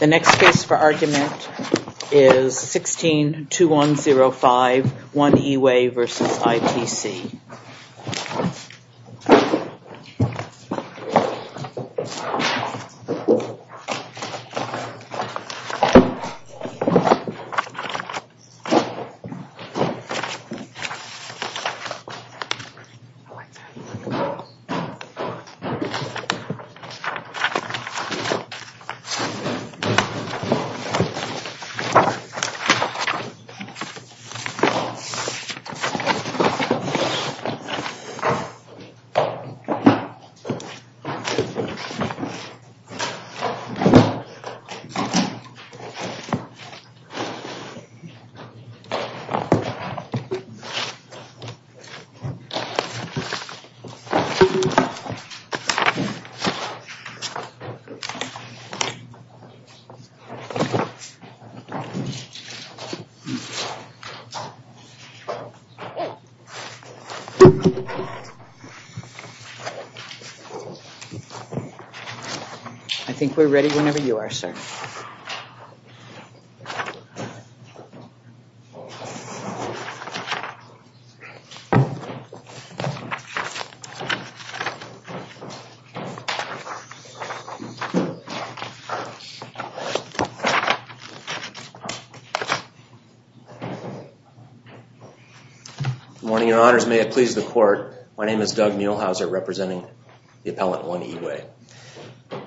The next case for argument is 16-2105, 1-E-Way v. ITC The next case for argument is 16-2105, 1-E-Way v. ITC The next case for argument is 16-2105, 1-E-Way v. ITC Good morning, your honors. May it please the court. My name is Doug Muehlhauser representing the appellant 1-E-Way.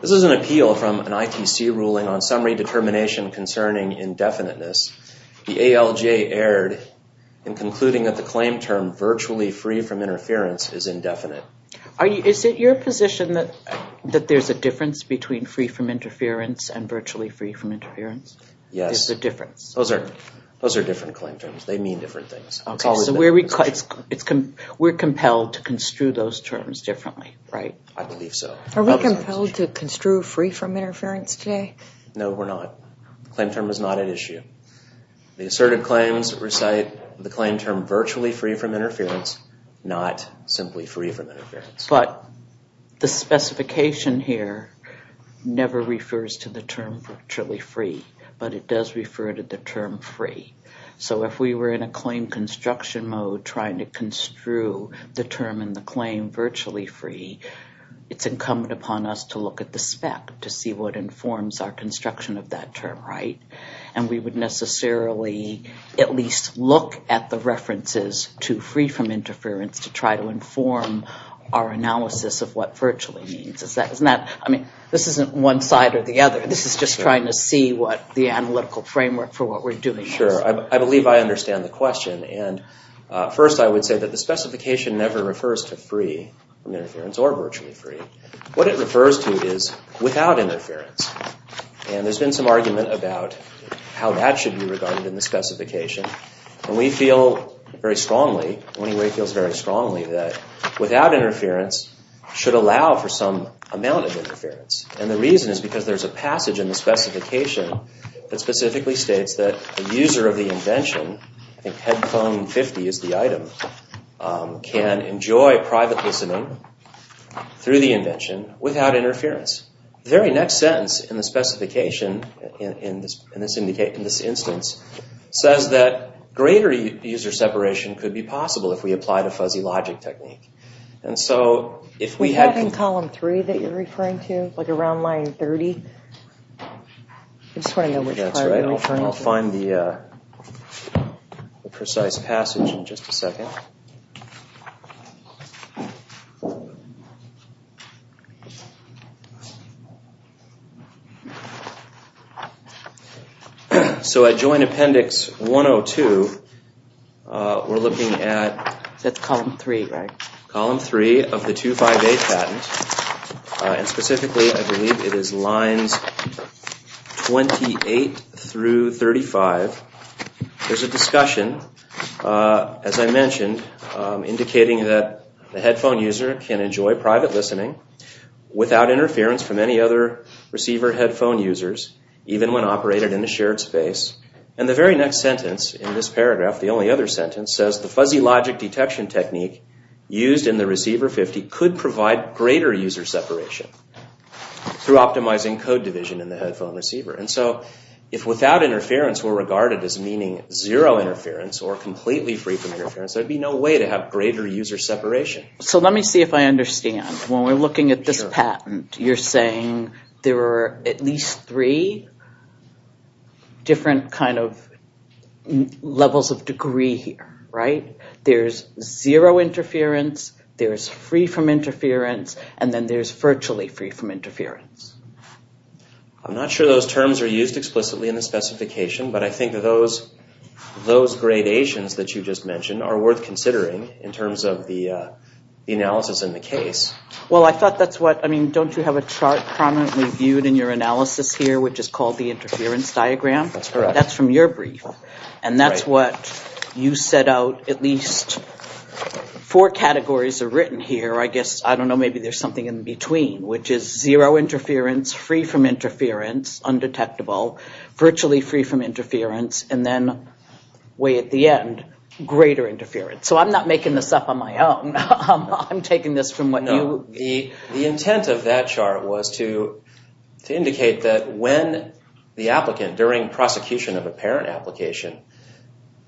This is an appeal from an ITC ruling on summary determination concerning indefiniteness. The ALJ erred in concluding that the claim term virtually free from interference is indefinite. Is it your position that there's a difference between free from interference and virtually free from interference? Yes. There's a difference? Those are different claim terms. They mean different things. Okay, so we're compelled to construe those terms differently, right? I believe so. Are we compelled to construe free from interference today? No, we're not. The claim term is not at issue. The asserted claims recite the claim term virtually free from interference, not simply free from interference. But the specification here never refers to the term virtually free, but it does refer to the term free. So if we were in a claim construction mode trying to construe the term in the claim virtually free, it's incumbent upon us to look at the spec to see what informs our construction of that term, right? And we would necessarily at least look at the references to free from interference to try to inform our analysis of what virtually means. I mean, this isn't one side or the other. This is just trying to see what the analytical framework for what we're doing is. Sure. I believe I understand the question. And first I would say that the specification never refers to free from interference or virtually free. What it refers to is without interference. And there's been some argument about how that should be regarded in the specification. And we feel very strongly, Winnie Wade feels very strongly, that without interference should allow for some amount of interference. And the reason is because there's a passage in the specification that specifically states that the user of the invention, I think headphone 50 is the item, can enjoy private listening through the invention without interference. The very next sentence in the specification, in this instance, says that greater user separation could be possible if we apply the fuzzy logic technique. And so if we had... Is that in column three that you're referring to, like around line 30? I just want to know which part you're referring to. That's right. I'll find the precise passage in just a second. So at Joint Appendix 102, we're looking at... That's column three, right? Column three of the 258 patent. And specifically I believe it is lines 28 through 35. There's a discussion, as I mentioned, indicating that the headphone user can enjoy private listening without interference from any other receiver headphone users, even when operated in a shared space. And the very next sentence in this paragraph, the only other sentence, says the fuzzy logic detection technique used in the receiver 50 could provide greater user separation through optimizing code division in the headphone receiver. And so if without interference we're regarded as meaning zero interference or completely free from interference, there'd be no way to have greater user separation. So let me see if I understand. When we're looking at this patent, you're saying there are at least three different kind of levels of degree here, right? There's zero interference, there's free from interference, and then there's virtually free from interference. I'm not sure those terms are used explicitly in the specification, but I think those gradations that you just mentioned are worth considering in terms of the analysis in the case. Well, I thought that's what, I mean, don't you have a chart prominently viewed in your analysis here, which is called the interference diagram? That's correct. That's from your brief. And that's what you set out at least four categories are written here. I guess, I don't know, maybe there's something in between, which is zero interference, free from interference, undetectable, virtually free from interference, and then way at the end, greater interference. So I'm not making this up on my own. I'm taking this from what you— No, the intent of that chart was to indicate that when the applicant, during prosecution of a parent application,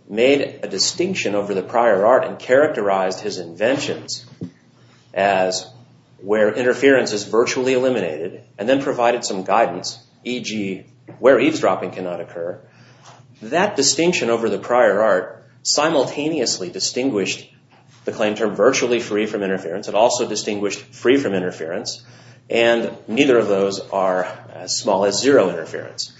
made a distinction over the prior art and characterized his inventions as where interference is virtually eliminated, and then provided some guidance, e.g., where eavesdropping cannot occur, that distinction over the prior art simultaneously distinguished the claim term virtually free from interference. It also distinguished free from interference. And neither of those are as small as zero interference.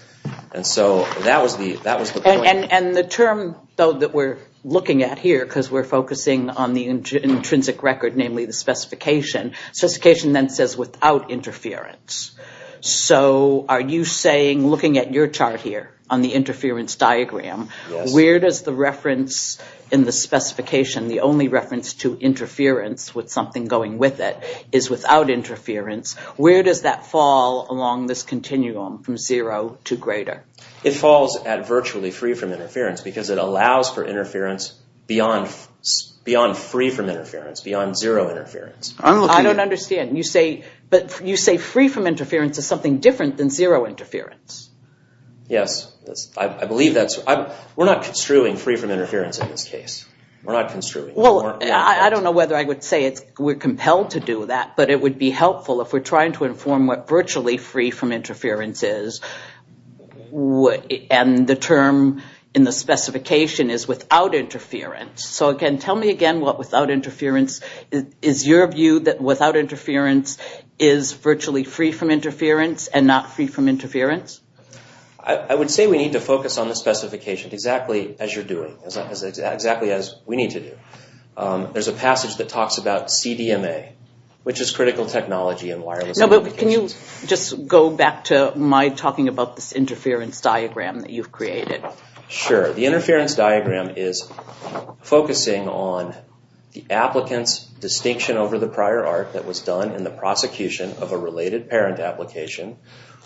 And so that was the point. And the term, though, that we're looking at here, because we're focusing on the intrinsic record, namely the specification, specification then says without interference. So are you saying, looking at your chart here on the interference diagram, where does the reference in the specification, the only reference to interference with something going with it, is without interference, where does that fall along this continuum from zero to greater? It falls at virtually free from interference, because it allows for interference beyond free from interference, beyond zero interference. I don't understand. You say free from interference is something different than zero interference. Yes. I believe that's. We're not construing free from interference in this case. We're not construing. Well, I don't know whether I would say we're compelled to do that, but it would be helpful if we're trying to inform what virtually free from interference is, and the term in the specification is without interference. So again, tell me again what without interference is. Is your view that without interference is virtually free from interference and not free from interference? I would say we need to focus on the specification exactly as you're doing, exactly as we need to do. There's a passage that talks about CDMA, which is critical technology and wireless communications. No, but can you just go back to my talking about this interference diagram that you've created? Sure. The interference diagram is focusing on the applicant's distinction over the prior arc that was done in the prosecution of a related parent application,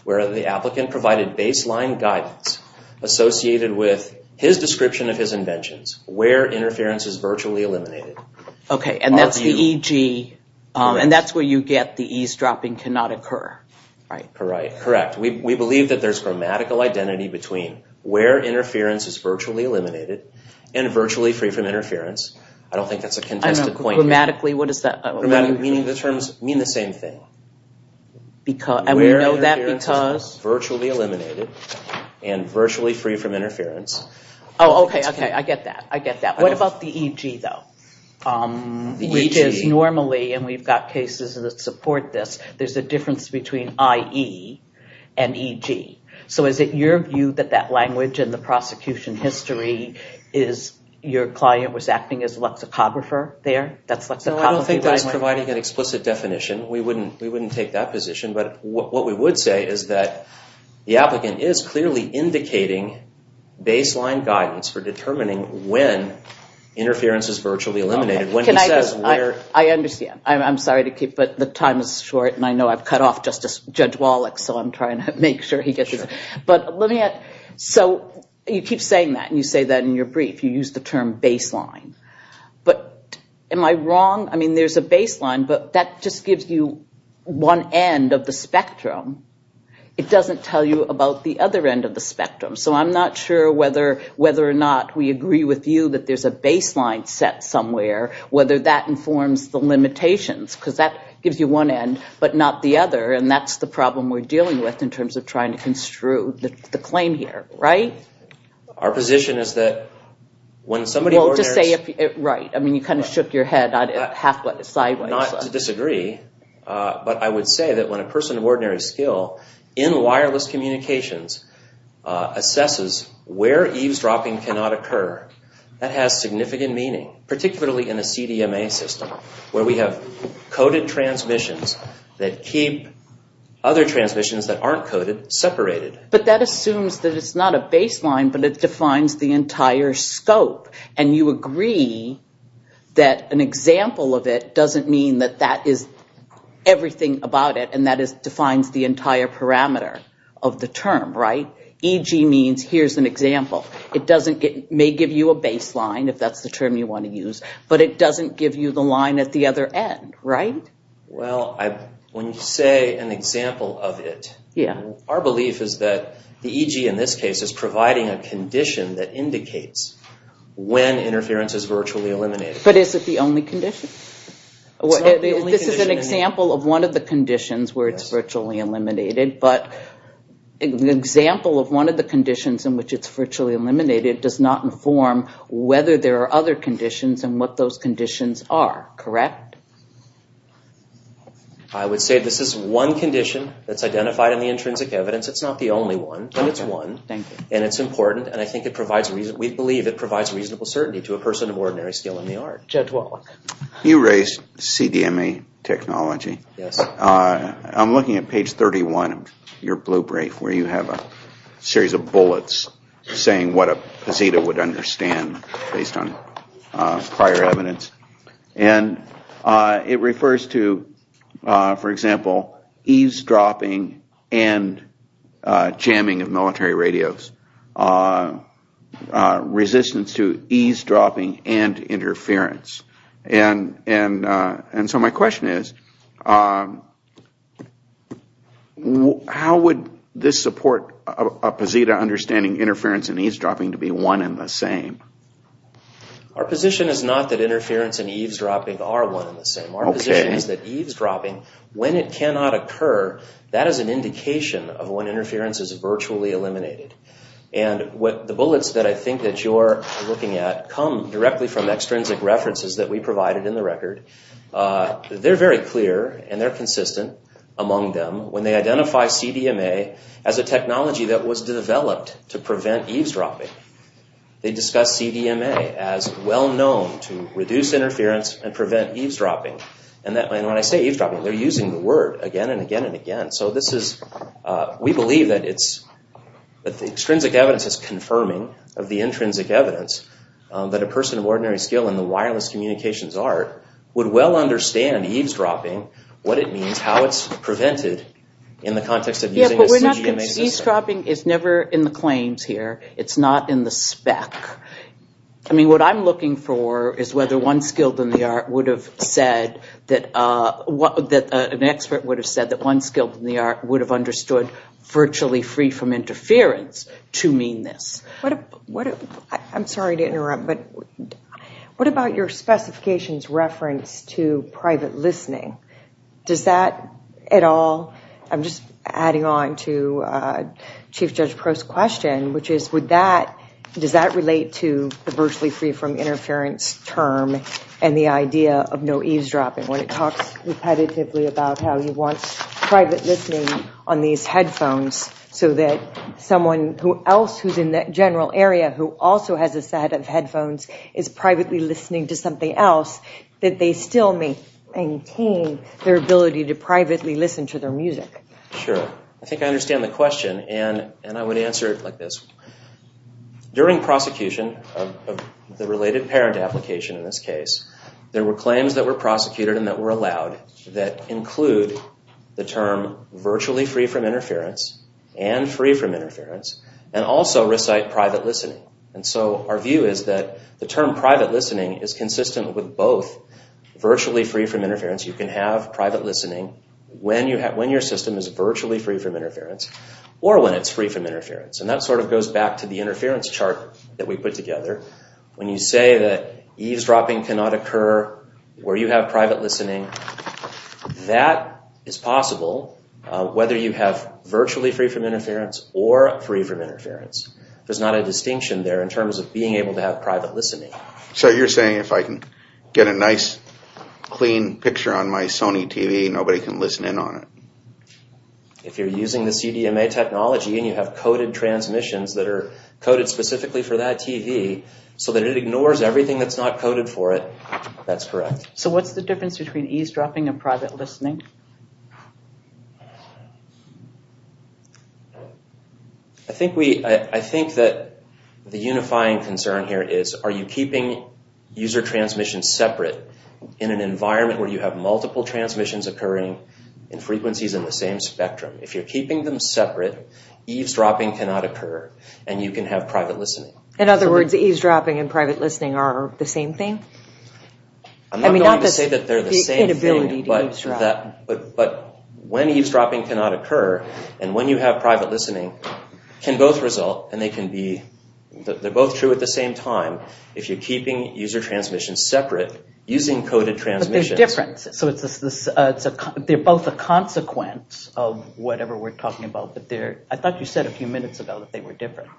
where the applicant provided baseline guidance associated with his description of his inventions, where interference is virtually eliminated. Okay, and that's the EG, and that's where you get the eavesdropping cannot occur, right? Correct. We believe that there's grammatical identity between where interference is virtually eliminated and virtually free from interference. I don't think that's a contested point. Grammatically, what does that mean? The terms mean the same thing. And we know that because? Where interference is virtually eliminated and virtually free from interference. Oh, okay, okay, I get that, I get that. What about the EG, though? Which is normally, and we've got cases that support this, there's a difference between IE and EG. So is it your view that that language in the prosecution history is your client was acting as a lexicographer there? No, I don't think that's providing an explicit definition. We wouldn't take that position. But what we would say is that the applicant is clearly indicating baseline guidance for determining when interference is virtually eliminated. Can I just, I understand. I'm sorry to keep, but the time is short, and I know I've cut off Judge Wallach, so I'm trying to make sure he gets this. But let me, so you keep saying that, and you say that in your brief. You use the term baseline. But am I wrong? I mean, there's a baseline, but that just gives you one end of the spectrum. It doesn't tell you about the other end of the spectrum. So I'm not sure whether or not we agree with you that there's a baseline set somewhere, whether that informs the limitations, because that gives you one end but not the other, and that's the problem we're dealing with in terms of trying to construe the claim here, right? Our position is that when somebody ordinarily Well, just say, right, I mean, you kind of shook your head halfway, sideways. Not to disagree, but I would say that when a person of ordinary skill, in wireless communications, assesses where eavesdropping cannot occur, that has significant meaning, particularly in a CDMA system, where we have coded transmissions that keep other transmissions that aren't coded separated. But that assumes that it's not a baseline, but it defines the entire scope, and you agree that an example of it doesn't mean that that is everything about it, and that defines the entire parameter of the term, right? EG means here's an example. It may give you a baseline, if that's the term you want to use, but it doesn't give you the line at the other end, right? Well, when you say an example of it, our belief is that the EG in this case is providing a condition that indicates when interference is virtually eliminated. But is it the only condition? This is an example of one of the conditions where it's virtually eliminated, but an example of one of the conditions in which it's virtually eliminated does not inform whether there are other conditions, and what those conditions are, correct? I would say this is one condition that's identified in the intrinsic evidence. It's not the only one, but it's one, and it's important, and I think it provides, we believe it provides reasonable certainty to a person of ordinary skill in the art. You raised CDMA technology. I'm looking at page 31 of your blue brief, where you have a series of bullets saying what a poseta would understand based on prior evidence, and it refers to, for example, eavesdropping and jamming of military radios, resistance to eavesdropping and interference. And so my question is, how would this support a poseta understanding interference and eavesdropping to be one and the same? Our position is not that interference and eavesdropping are one and the same. Our position is that eavesdropping, when it cannot occur, that is an indication of when interference is virtually eliminated. And the bullets that I think that you're looking at come directly from extrinsic references that we provided in the record. They're very clear, and they're consistent among them. When they identify CDMA as a technology that was developed to prevent eavesdropping, they discuss CDMA as well-known to reduce interference and prevent eavesdropping. And when I say eavesdropping, they're using the word again and again and again. We believe that the extrinsic evidence is confirming of the intrinsic evidence that a person of ordinary skill in the wireless communications art would well understand eavesdropping, what it means, how it's prevented in the context of using a CDMA system. Yeah, but eavesdropping is never in the claims here. It's not in the spec. I mean, what I'm looking for is whether an expert would have said that one skilled in the art would have understood virtually free from interference to mean this. I'm sorry to interrupt, but what about your specifications reference to private listening? Does that at all, I'm just adding on to Chief Judge Proh's question, which is would that, does that relate to the virtually free from interference term and the idea of no eavesdropping when it talks repetitively about how you want private listening on these headphones so that someone else who's in that general area who also has a set of headphones is privately listening to something else, that they still maintain their ability to privately listen to their music? Sure. I think I understand the question, and I would answer it like this. During prosecution of the related parent application in this case, there were claims that were prosecuted and that were allowed that include the term virtually free from interference and free from interference and also recite private listening. And so our view is that the term private listening is consistent with both. Virtually free from interference, you can have private listening when your system is virtually free from interference or when it's free from interference. And that sort of goes back to the interference chart that we put together. When you say that eavesdropping cannot occur where you have private listening, that is possible whether you have virtually free from interference or free from interference. There's not a distinction there in terms of being able to have private listening. So you're saying if I can get a nice, clean picture on my Sony TV, nobody can listen in on it? If you're using the CDMA technology and you have coded transmissions that are coded specifically for that TV so that it ignores everything that's not coded for it, that's correct. So what's the difference between eavesdropping and private listening? I think that the unifying concern here is, are you keeping user transmission separate in an environment where you have multiple transmissions occurring in frequencies in the same spectrum? If you're keeping them separate, eavesdropping cannot occur, and you can have private listening. In other words, eavesdropping and private listening are the same thing? I'm not going to say that they're the same thing, but when eavesdropping cannot occur and when you have private listening, can both result and they can be, they're both true at the same time, if you're keeping user transmission separate using coded transmissions. They're different, so they're both a consequence of whatever we're talking about. I thought you said a few minutes ago that they were different.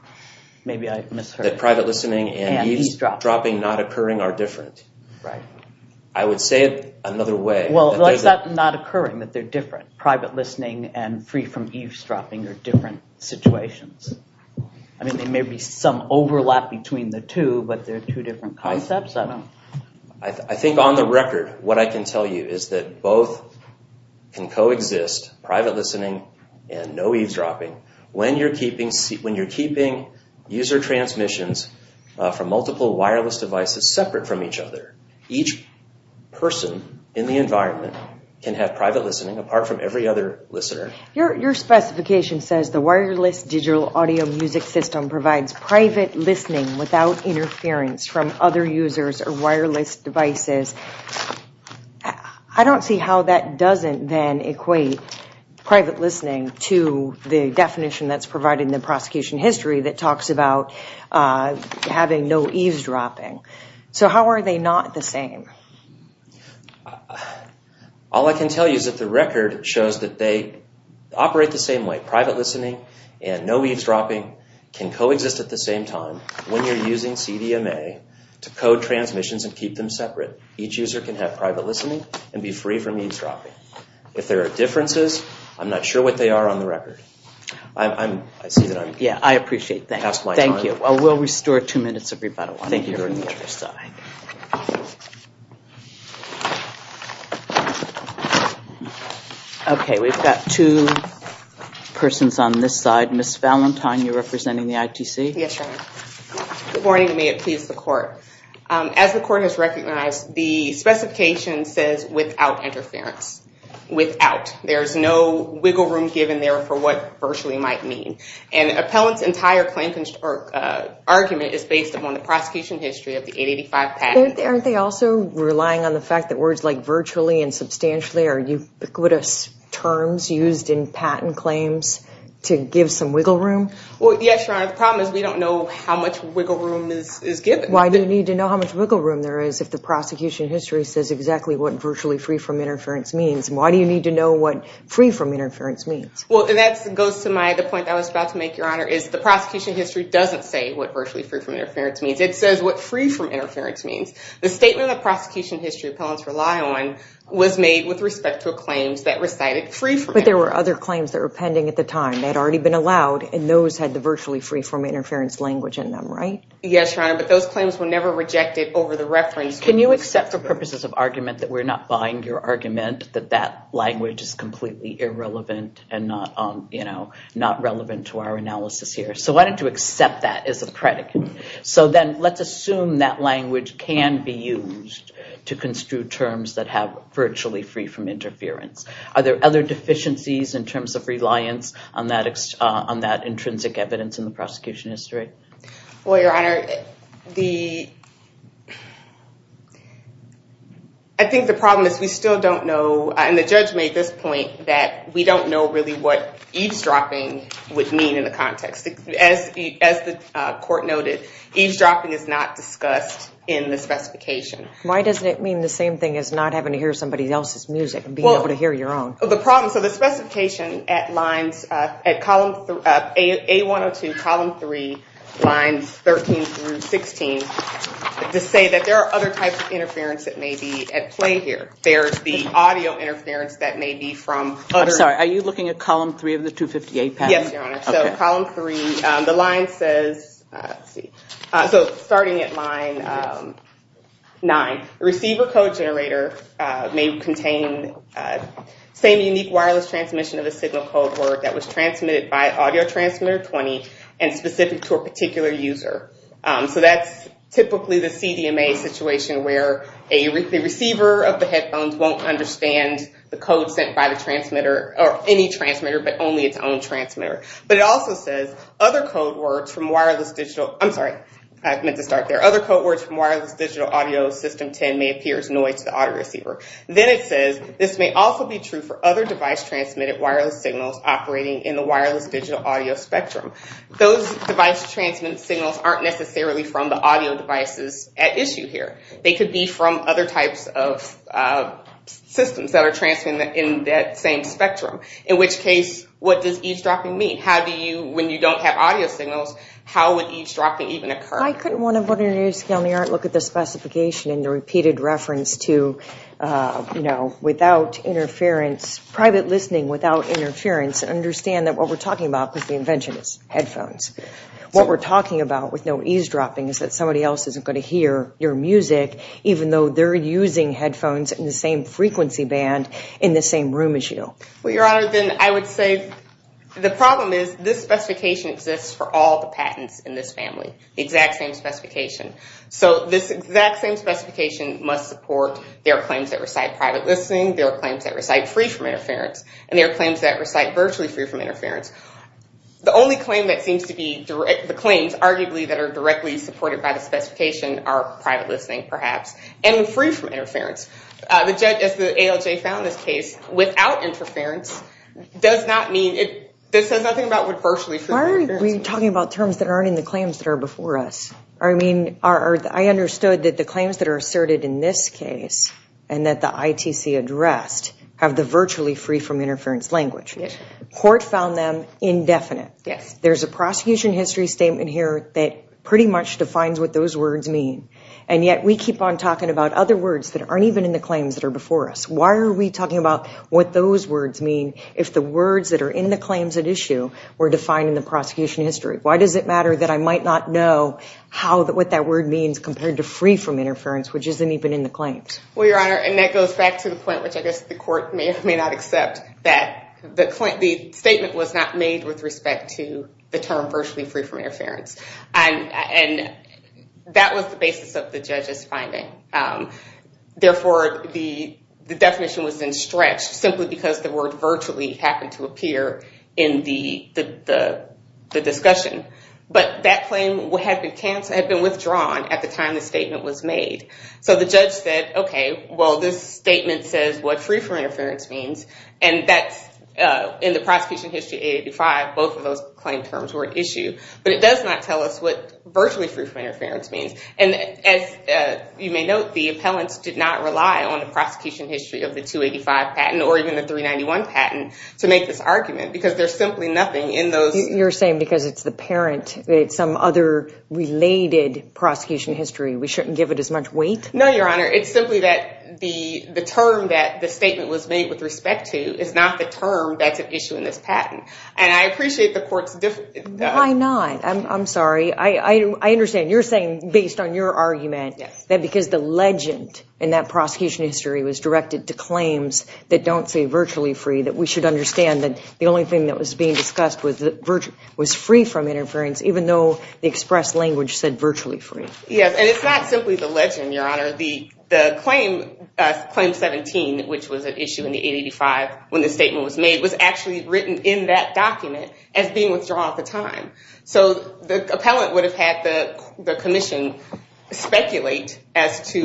Maybe I misheard. That private listening and eavesdropping not occurring are different. I would say it another way. Well, it's not not occurring that they're different. Private listening and free from eavesdropping are different situations. I mean, there may be some overlap between the two, but they're two different concepts. I think on the record, what I can tell you is that both can coexist, private listening and no eavesdropping. When you're keeping user transmissions from multiple wireless devices separate from each other, each person in the environment can have private listening apart from every other listener. Your specification says the wireless digital audio music system provides private listening without interference from other users or wireless devices. I don't see how that doesn't then equate private listening to the definition that's provided in the prosecution history that talks about having no eavesdropping. So how are they not the same? All I can tell you is that the record shows that they operate the same way. Each user can have private listening and no eavesdropping can coexist at the same time when you're using CDMA to code transmissions and keep them separate. Each user can have private listening and be free from eavesdropping. If there are differences, I'm not sure what they are on the record. I see that I'm... Yeah, I appreciate that. Thank you. We'll restore two minutes of rebuttal. I think you're on the other side. Okay, we've got two persons on this side. Ms. Valentine, you're representing the ITC? Yes, Your Honor. Good morning and may it please the court. As the court has recognized, the specification says without interference. Without. There's no wiggle room given there for what virtually might mean. And the appellant's entire argument is based upon the prosecution history of the 885 patent. Aren't they also relying on the fact that words like virtually and substantially are ubiquitous terms used in patent claims to give some wiggle room? Well, yes, Your Honor. The problem is we don't know how much wiggle room is given. Why do you need to know how much wiggle room there is if the prosecution history says exactly what virtually free from interference means? Why do you need to know what free from interference means? Well, that goes to the point I was about to make, Your Honor, is the prosecution history doesn't say what virtually free from interference means. It says what free from interference means. The statement that prosecution history appellants rely on was made with respect to claims that recited free from interference. But there were other claims that were pending at the time that had already been allowed, and those had the virtually free from interference language in them, right? Yes, Your Honor, but those claims were never rejected over the reference. Can you accept for purposes of argument that we're not buying your argument that that language is completely irrelevant and not, you know, not relevant to our analysis here? So why don't you accept that as a predicate? So then let's assume that language can be used to construe terms that have virtually free from interference. Are there other deficiencies in terms of reliance on that intrinsic evidence in the prosecution history? Well, Your Honor, I think the problem is we still don't know, and the judge made this point, that we don't know really what eavesdropping would mean in the context. As the court noted, eavesdropping is not discussed in the specification. Why doesn't it mean the same thing as not having to hear somebody else's music and being able to hear your own? The problem, so the specification at lines, at column A-102, column 3, lines 13 through 16, to say that there are other types of interference that may be at play here. There's the audio interference that may be from other. I'm sorry, are you looking at column 3 of the 258 pass? Yes, Your Honor. So column 3, the line says, so starting at line 9, receiver code generator may contain same unique wireless transmission of a signal code word that was transmitted by audio transmitter 20 and specific to a particular user. So that's typically the CDMA situation where the receiver of the headphones won't understand the code sent by the transmitter or any transmitter but only its own transmitter. But it also says other code words from wireless digital, I'm sorry, I meant to start there, other code words from wireless digital audio system 10 may appear as noise to the audio receiver. Then it says this may also be true for other device transmitted wireless signals operating in the wireless digital audio spectrum. Those device transmitted signals aren't necessarily from the audio devices at issue here. They could be from other types of systems that are transmitted in that same spectrum. In which case, what does eavesdropping mean? How do you, when you don't have audio signals, how would eavesdropping even occur? I couldn't want to look at the specification in the repeated reference to, you know, without interference, private listening without interference and understand that what we're talking about with the invention is headphones. What we're talking about with no eavesdropping is that somebody else isn't going to hear your music even though they're using headphones in the same frequency band in the same room as you. Well, Your Honor, then I would say the problem is this specification exists for all the patents in this family. The exact same specification. So this exact same specification must support their claims that recite private listening, their claims that recite free from interference, and their claims that recite virtually free from interference. The only claim that seems to be, the claims arguably that are directly supported by the specification are private listening perhaps and free from interference. The judge, as the ALJ found this case, without interference does not mean, it says nothing about virtually free from interference. Why are we talking about terms that aren't in the claims that are before us? I mean, I understood that the claims that are asserted in this case and that the ITC addressed have the virtually free from interference language. Yes. Court found them indefinite. Yes. There's a prosecution history statement here that pretty much defines what those words mean, and yet we keep on talking about other words that aren't even in the claims that are before us. Why are we talking about what those words mean if the words that are in the claims at issue were defined in the prosecution history? Why does it matter that I might not know what that word means compared to free from interference, which isn't even in the claims? Well, Your Honor, and that goes back to the point, which I guess the court may or may not accept, that the statement was not made with respect to the term virtually free from interference. And that was the basis of the judge's finding. Therefore, the definition was then stretched simply because the word virtually happened to appear in the discussion. But that claim had been withdrawn at the time the statement was made. So the judge said, okay, well, this statement says what free from interference means, and that's in the prosecution history 885, both of those claim terms were at issue. But it does not tell us what virtually free from interference means. And as you may note, the appellants did not rely on the prosecution history of the 285 patent or even the 391 patent to make this argument because there's simply nothing in those. You're saying because it's the parent, it's some other related prosecution history, we shouldn't give it as much weight? No, Your Honor. It's simply that the term that the statement was made with respect to is not the term that's at issue in this patent. And I appreciate the court's difference. Why not? I'm sorry. I understand. You're saying based on your argument that because the legend in that claims that don't say virtually free that we should understand that the only thing that was being discussed was free from interference even though the express language said virtually free. Yes, and it's not simply the legend, Your Honor. The claim 17, which was at issue in the 885 when the statement was made, was actually written in that document as being withdrawn at the time. So the appellant would have had the commission speculate as to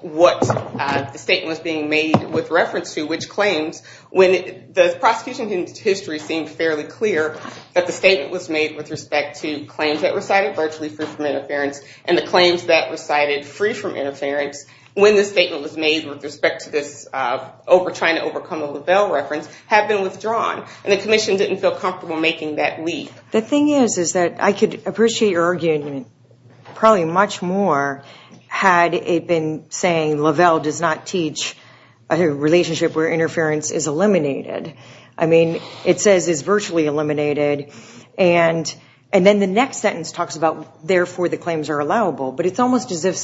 what the claim was being made with reference to, which claims when the prosecution history seemed fairly clear that the statement was made with respect to claims that recited virtually free from interference and the claims that recited free from interference when the statement was made with respect to this trying to overcome a Lavelle reference had been withdrawn. And the commission didn't feel comfortable making that leap. The thing is is that I could appreciate your argument probably much more had it been saying Lavelle does not teach a relationship where interference is eliminated. I mean, it says is virtually eliminated and then the next sentence talks about therefore the claims are allowable. But it's almost as if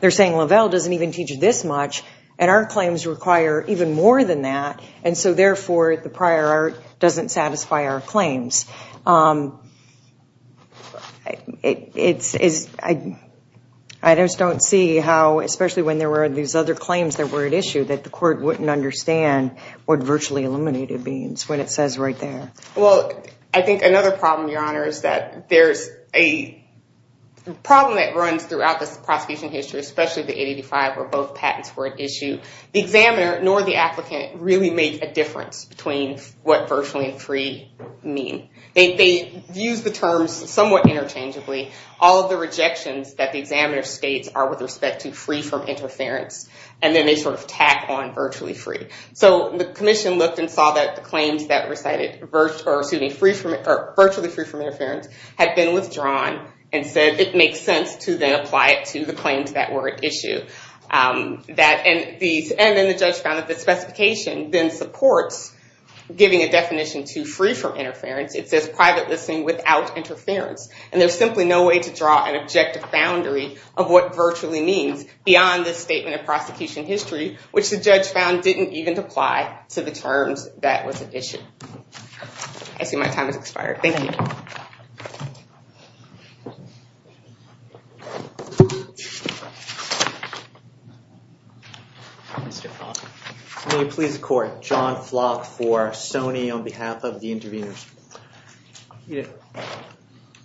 they're saying Lavelle doesn't even teach this much and our claims require even more than that and so therefore the prior art doesn't satisfy our claims. I just don't see how, especially when there were these other claims that were at issue, that the court wouldn't understand what virtually eliminated means when it says right there. Well, I think another problem, Your Honor, is that there's a problem that runs throughout this prosecution history, especially the 885 where both patents were at issue. They use the terms somewhat interchangeably. All of the rejections that the examiner states are with respect to free from interference and then they sort of tack on virtually free. So the commission looked and saw that the claims that were cited virtually free from interference had been withdrawn and said it makes sense to then apply it to the claims that were at issue. And then the judge found that the specification then supports giving a definition to free from interference. It says private listening without interference. And there's simply no way to draw an objective boundary of what virtually means beyond this statement of prosecution history, which the judge found didn't even apply to the terms that was at issue. I see my time has expired. Thank you. Mr. Flock. May it please the court. John Flock for SONY on behalf of the interveners.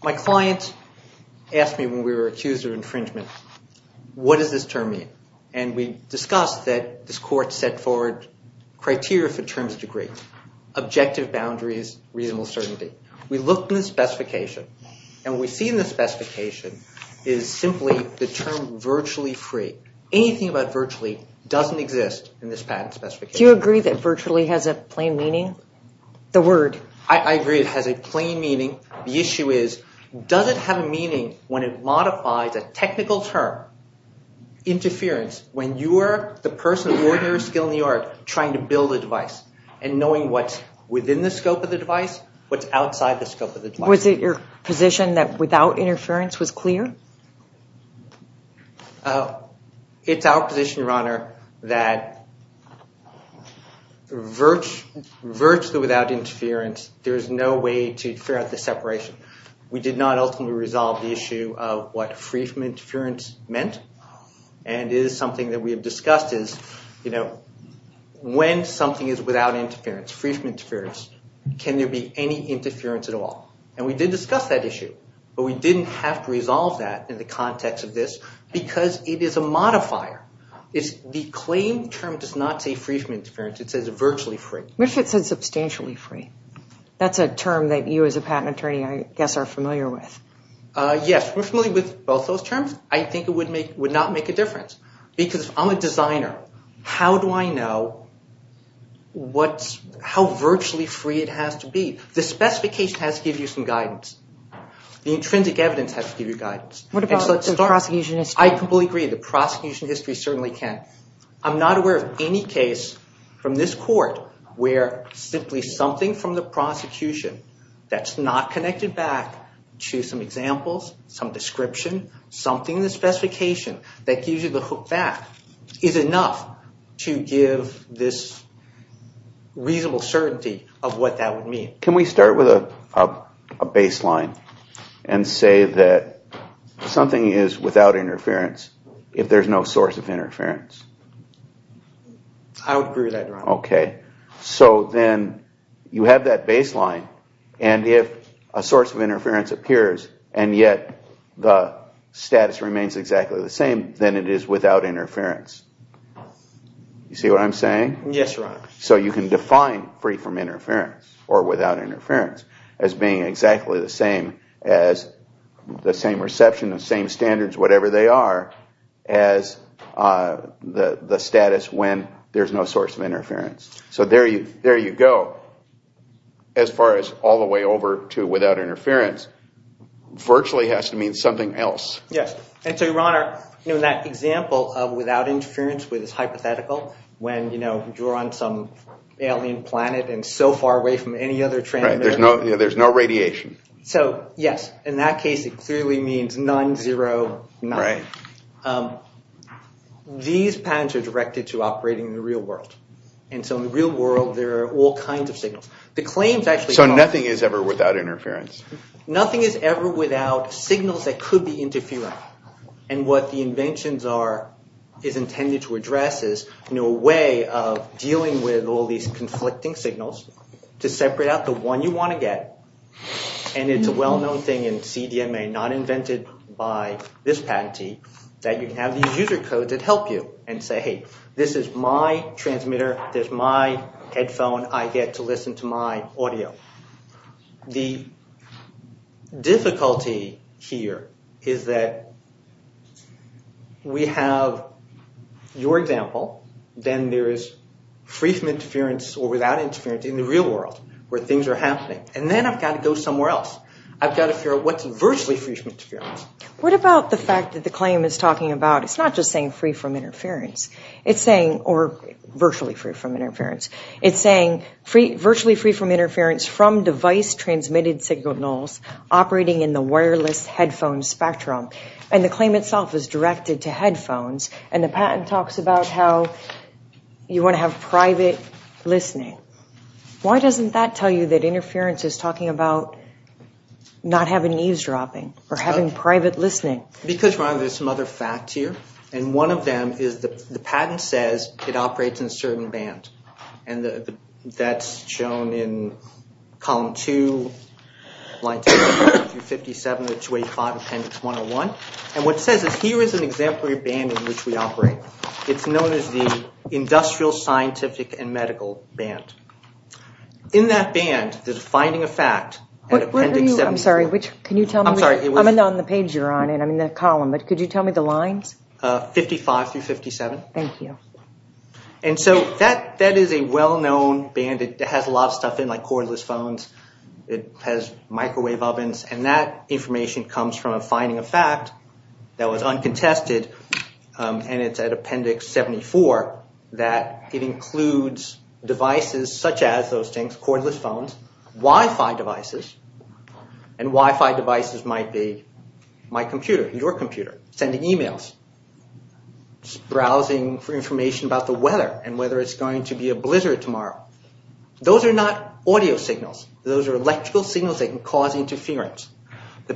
My client asked me when we were accused of infringement, what does this term mean? And we discussed that this court set forward criteria for terms of degree, objective boundaries, reasonable certainty. We looked in the specification and what we see in the specification is simply the term virtually free. Anything about virtually doesn't exist in this patent specification. Do you agree that virtually has a plain meaning? The word. I agree it has a plain meaning. The issue is does it have a meaning when it modifies a technical term, interference, when you are the person of ordinary skill in the art trying to build a device and knowing what's within the scope of the device, what's outside the scope of the device. Was it your position that without interference was clear? It's our position, Your Honor, that virtually without interference, there is no way to figure out the separation. We did not ultimately resolve the issue of what free from interference meant and is something that we have discussed is, you know, when something is without interference, free from interference, can there be any interference at all? And we did discuss that issue, but we didn't have to resolve that in the context of this because it is a modifier. The claim term does not say free from interference. It says virtually free. What if it said substantially free? That's a term that you as a patent attorney, I guess, are familiar with. Yes, we're familiar with both those terms. I think it would not make a difference because I'm a designer. How do I know how virtually free it has to be? The specification has to give you some guidance. The intrinsic evidence has to give you guidance. What about the prosecution history? I completely agree. The prosecution history certainly can. I'm not aware of any case from this court where simply something from the prosecution that's not connected back to some examples, some description, something in the specification that gives you the hookback is enough to give this reasonable certainty of what that would mean. Can we start with a baseline and say that something is without interference if there's no source of interference? I would agree with that, Your Honor. Okay. So then you have that baseline, and if a source of interference appears, and yet the status remains exactly the same, then it is without interference. You see what I'm saying? Yes, Your Honor. So you can define free from interference or without interference as being exactly the same as the same reception, the same standards, whatever they are, as the status when there's no source of interference. So there you go as far as all the way over to without interference virtually has to mean something else. And so, Your Honor, that example of without interference is hypothetical when you're on some alien planet and so far away from any other transmitter. Right. There's no radiation. So, yes, in that case it clearly means none, zero, none. Right. These patterns are directed to operating in the real world. And so in the real world there are all kinds of signals. So nothing is ever without interference? Nothing is ever without signals that could be interfering. And what the inventions are, is intended to address, is a way of dealing with all these conflicting signals to separate out the one you want to get. And it's a well-known thing in CDMA, not invented by this patentee, that you can have these user codes that help you and say, hey, this is my transmitter, this is my headphone, I get to listen to my audio. The difficulty here is that we have your example, then there is free from interference or without interference in the real world where things are happening. And then I've got to go somewhere else. I've got to figure out what's virtually free from interference. What about the fact that the claim is talking about, it's not just saying free from interference, it's saying, or virtually free from interference, it's saying virtually free from interference from device-transmitted signals operating in the wireless headphone spectrum. And the claim itself is directed to headphones, and the patent talks about how you want to have private listening. Why doesn't that tell you that interference is talking about not having eavesdropping or having private listening? Because, Ron, there's some other facts here, and one of them is the patent says it operates in a certain band, and that's shown in column two, line 257 to 285, appendix 101. And what it says is here is an exemplary band in which we operate. It's known as the industrial, scientific, and medical band. In that band, the defining effect, appendix 75. I'm sorry, can you tell me? I'm sorry. It's in the column, but could you tell me the lines? 55 through 57. Thank you. And so that is a well-known band. It has a lot of stuff in it, like cordless phones. It has microwave ovens, and that information comes from a finding of fact that was uncontested, and it's at appendix 74, that it includes devices such as those things, cordless phones, Wi-Fi devices, and Wi-Fi devices might be my computer, your computer, sending e-mails, browsing for information about the weather and whether it's going to be a blizzard tomorrow. Those are not audio signals. Those are electrical signals that can cause interference.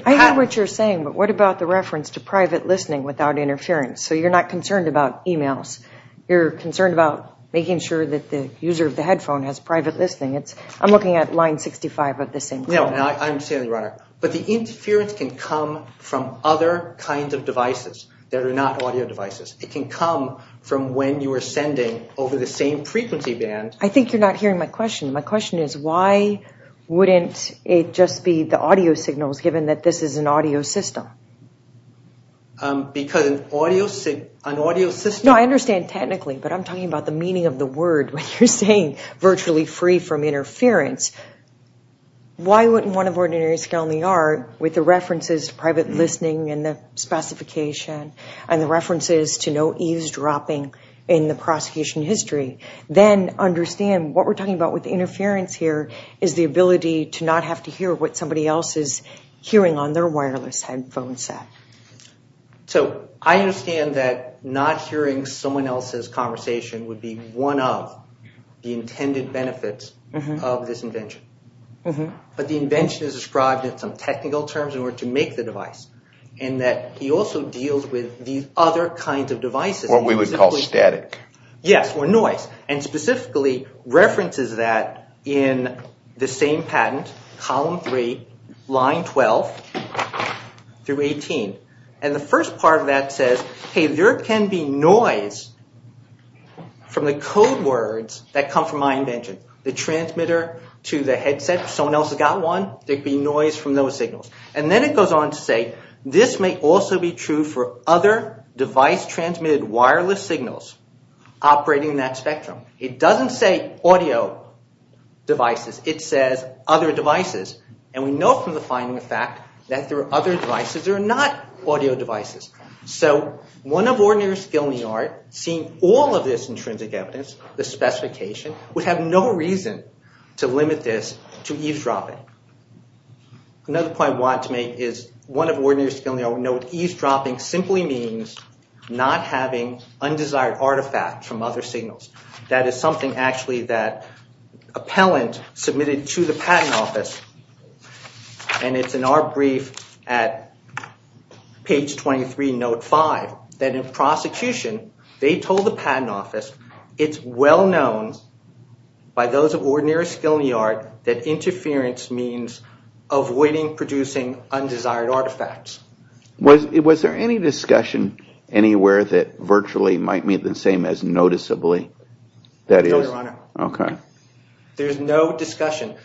I know what you're saying, but what about the reference to private listening without interference? So you're not concerned about e-mails. You're concerned about making sure that the user of the headphone has private listening. I'm looking at line 65 of the same thing. No, I understand, Your Honor. But the interference can come from other kinds of devices that are not audio devices. It can come from when you are sending over the same frequency band. I think you're not hearing my question. My question is why wouldn't it just be the audio signals, given that this is an audio system? Because an audio system— No, I understand technically, but I'm talking about the meaning of the word when you're saying virtually free from interference. Why wouldn't one of ordinary people in the yard, with the references to private listening and the specification and the references to no eavesdropping in the prosecution history, then understand what we're talking about with the interference here is the ability to not have to hear what somebody else is hearing on their wireless headphone set. So I understand that not hearing someone else's conversation would be one of the intended benefits of this invention. But the invention is described in some technical terms in order to make the device, in that he also deals with these other kinds of devices. What we would call static. Yes, or noise, and specifically references that in the same patent, column 3, line 12 through 18. And the first part of that says, hey, there can be noise from the code words that come from my invention. The transmitter to the headset, if someone else has got one, there can be noise from those signals. And then it goes on to say, this may also be true for other device-transmitted wireless signals operating in that spectrum. It doesn't say audio devices. It says other devices. And we know from the finding of fact that there are other devices that are not audio devices. So one of ordinary skill in the art, seeing all of this intrinsic evidence, the specification, would have no reason to limit this to eavesdropping. Another point I wanted to make is one of ordinary skill in the art would know that eavesdropping simply means not having undesired artifacts from other signals. That is something actually that appellant submitted to the patent office, and it's in our brief at page 23, note 5, that in prosecution they told the patent office it's well known by those of ordinary skill in the art that interference means avoiding producing undesired artifacts. Was there any discussion anywhere that virtually might mean the same as noticeably? No, Your Honor. Okay. There's no discussion.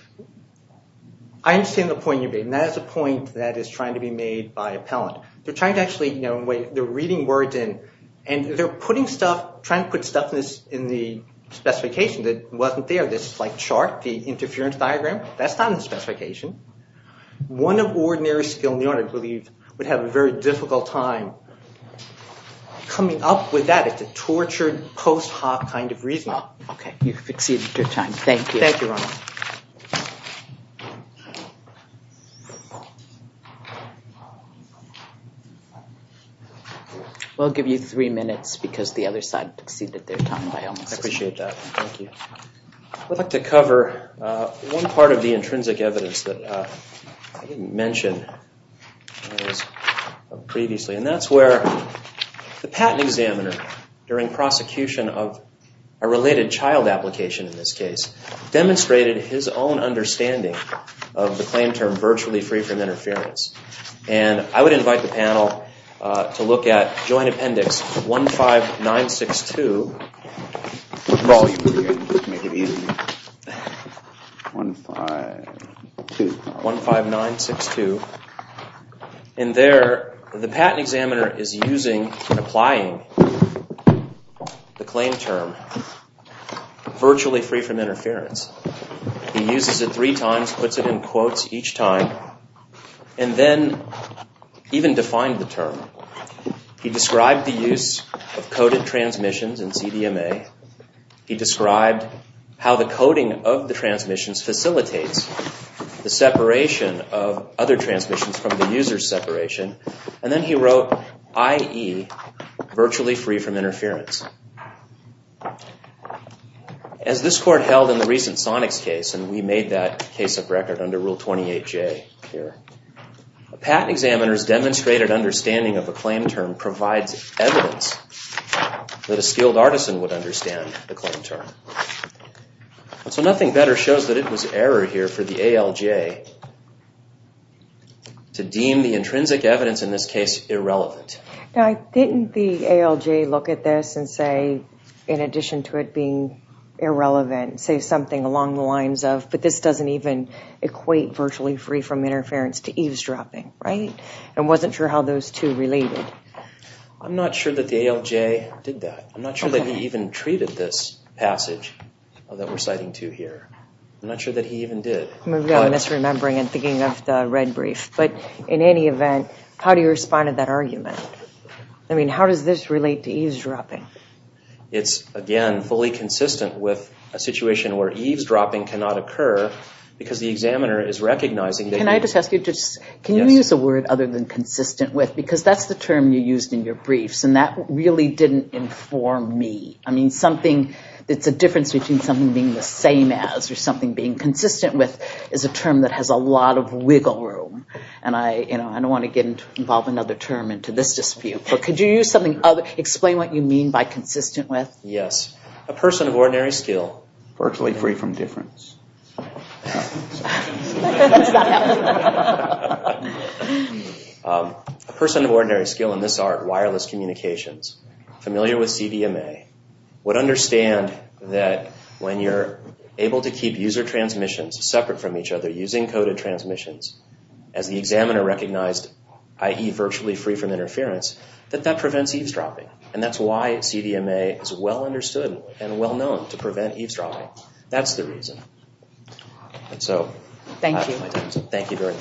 I understand the point you're making. That is a point that is trying to be made by appellant. They're trying to actually, you know, they're reading words in and they're putting stuff, trying to put stuff in the specification that wasn't there. This, like, chart, the interference diagram, that's not in the specification. One of ordinary skill in the art, I believe, would have a very difficult time coming up with that. It's a tortured post hoc kind of reasoning. Okay. You've exceeded your time. Thank you. Thank you, Your Honor. We'll give you three minutes because the other side exceeded their time. I appreciate that. Thank you. I'd like to cover one part of the intrinsic evidence that I didn't mention previously, and that's where the patent examiner, during prosecution of a related child application in this case, demonstrated his own understanding of the claim term virtually free from interference. And I would invite the panel to look at Joint Appendix 15962. The volume here. Make it easier. 15... 15962. And there, the patent examiner is using and applying the claim term virtually free from interference. He uses it three times, puts it in quotes each time, and then even defined the term. He described the use of coded transmissions in CDMA. He described how the coding of the transmissions facilitates the separation of other transmissions from the user's separation. And then he wrote, i.e., virtually free from interference. As this court held in the recent Sonics case, and we made that case of record under Rule 28J here, a patent examiner's demonstrated understanding of a claim term provides evidence that a skilled artisan would understand the claim term. So nothing better shows that it was error here for the ALJ to deem the intrinsic evidence in this case irrelevant. Now didn't the ALJ look at this and say, in addition to it being irrelevant, say something along the lines of, but this doesn't even equate virtually free from interference to eavesdropping, right? And wasn't sure how those two related. I'm not sure that the ALJ did that. I'm not sure that he even treated this passage that we're citing to here. I'm not sure that he even did. I'm really misremembering and thinking of the red brief. But in any event, how do you respond to that argument? I mean, how does this relate to eavesdropping? It's, again, fully consistent with a situation where eavesdropping cannot occur because the examiner is recognizing that you Can I just ask you, can you use a word other than consistent with, because that's the term you used in your briefs, and that really didn't inform me. I mean, something that's a difference between something being the same as or something being consistent with is a term that has a lot of wiggle room. And I don't want to get involved in another term into this dispute. But could you use something other? Explain what you mean by consistent with. Yes. A person of ordinary skill, virtually free from difference. That's not helpful. A person of ordinary skill in this art, wireless communications, familiar with CDMA, would understand that when you're able to keep user transmissions separate from each other using coded transmissions, as the examiner recognized, i.e., virtually free from interference, that that prevents eavesdropping. And that's why CDMA is well understood and well known to prevent eavesdropping. That's the reason. Thank you. Thank you very much.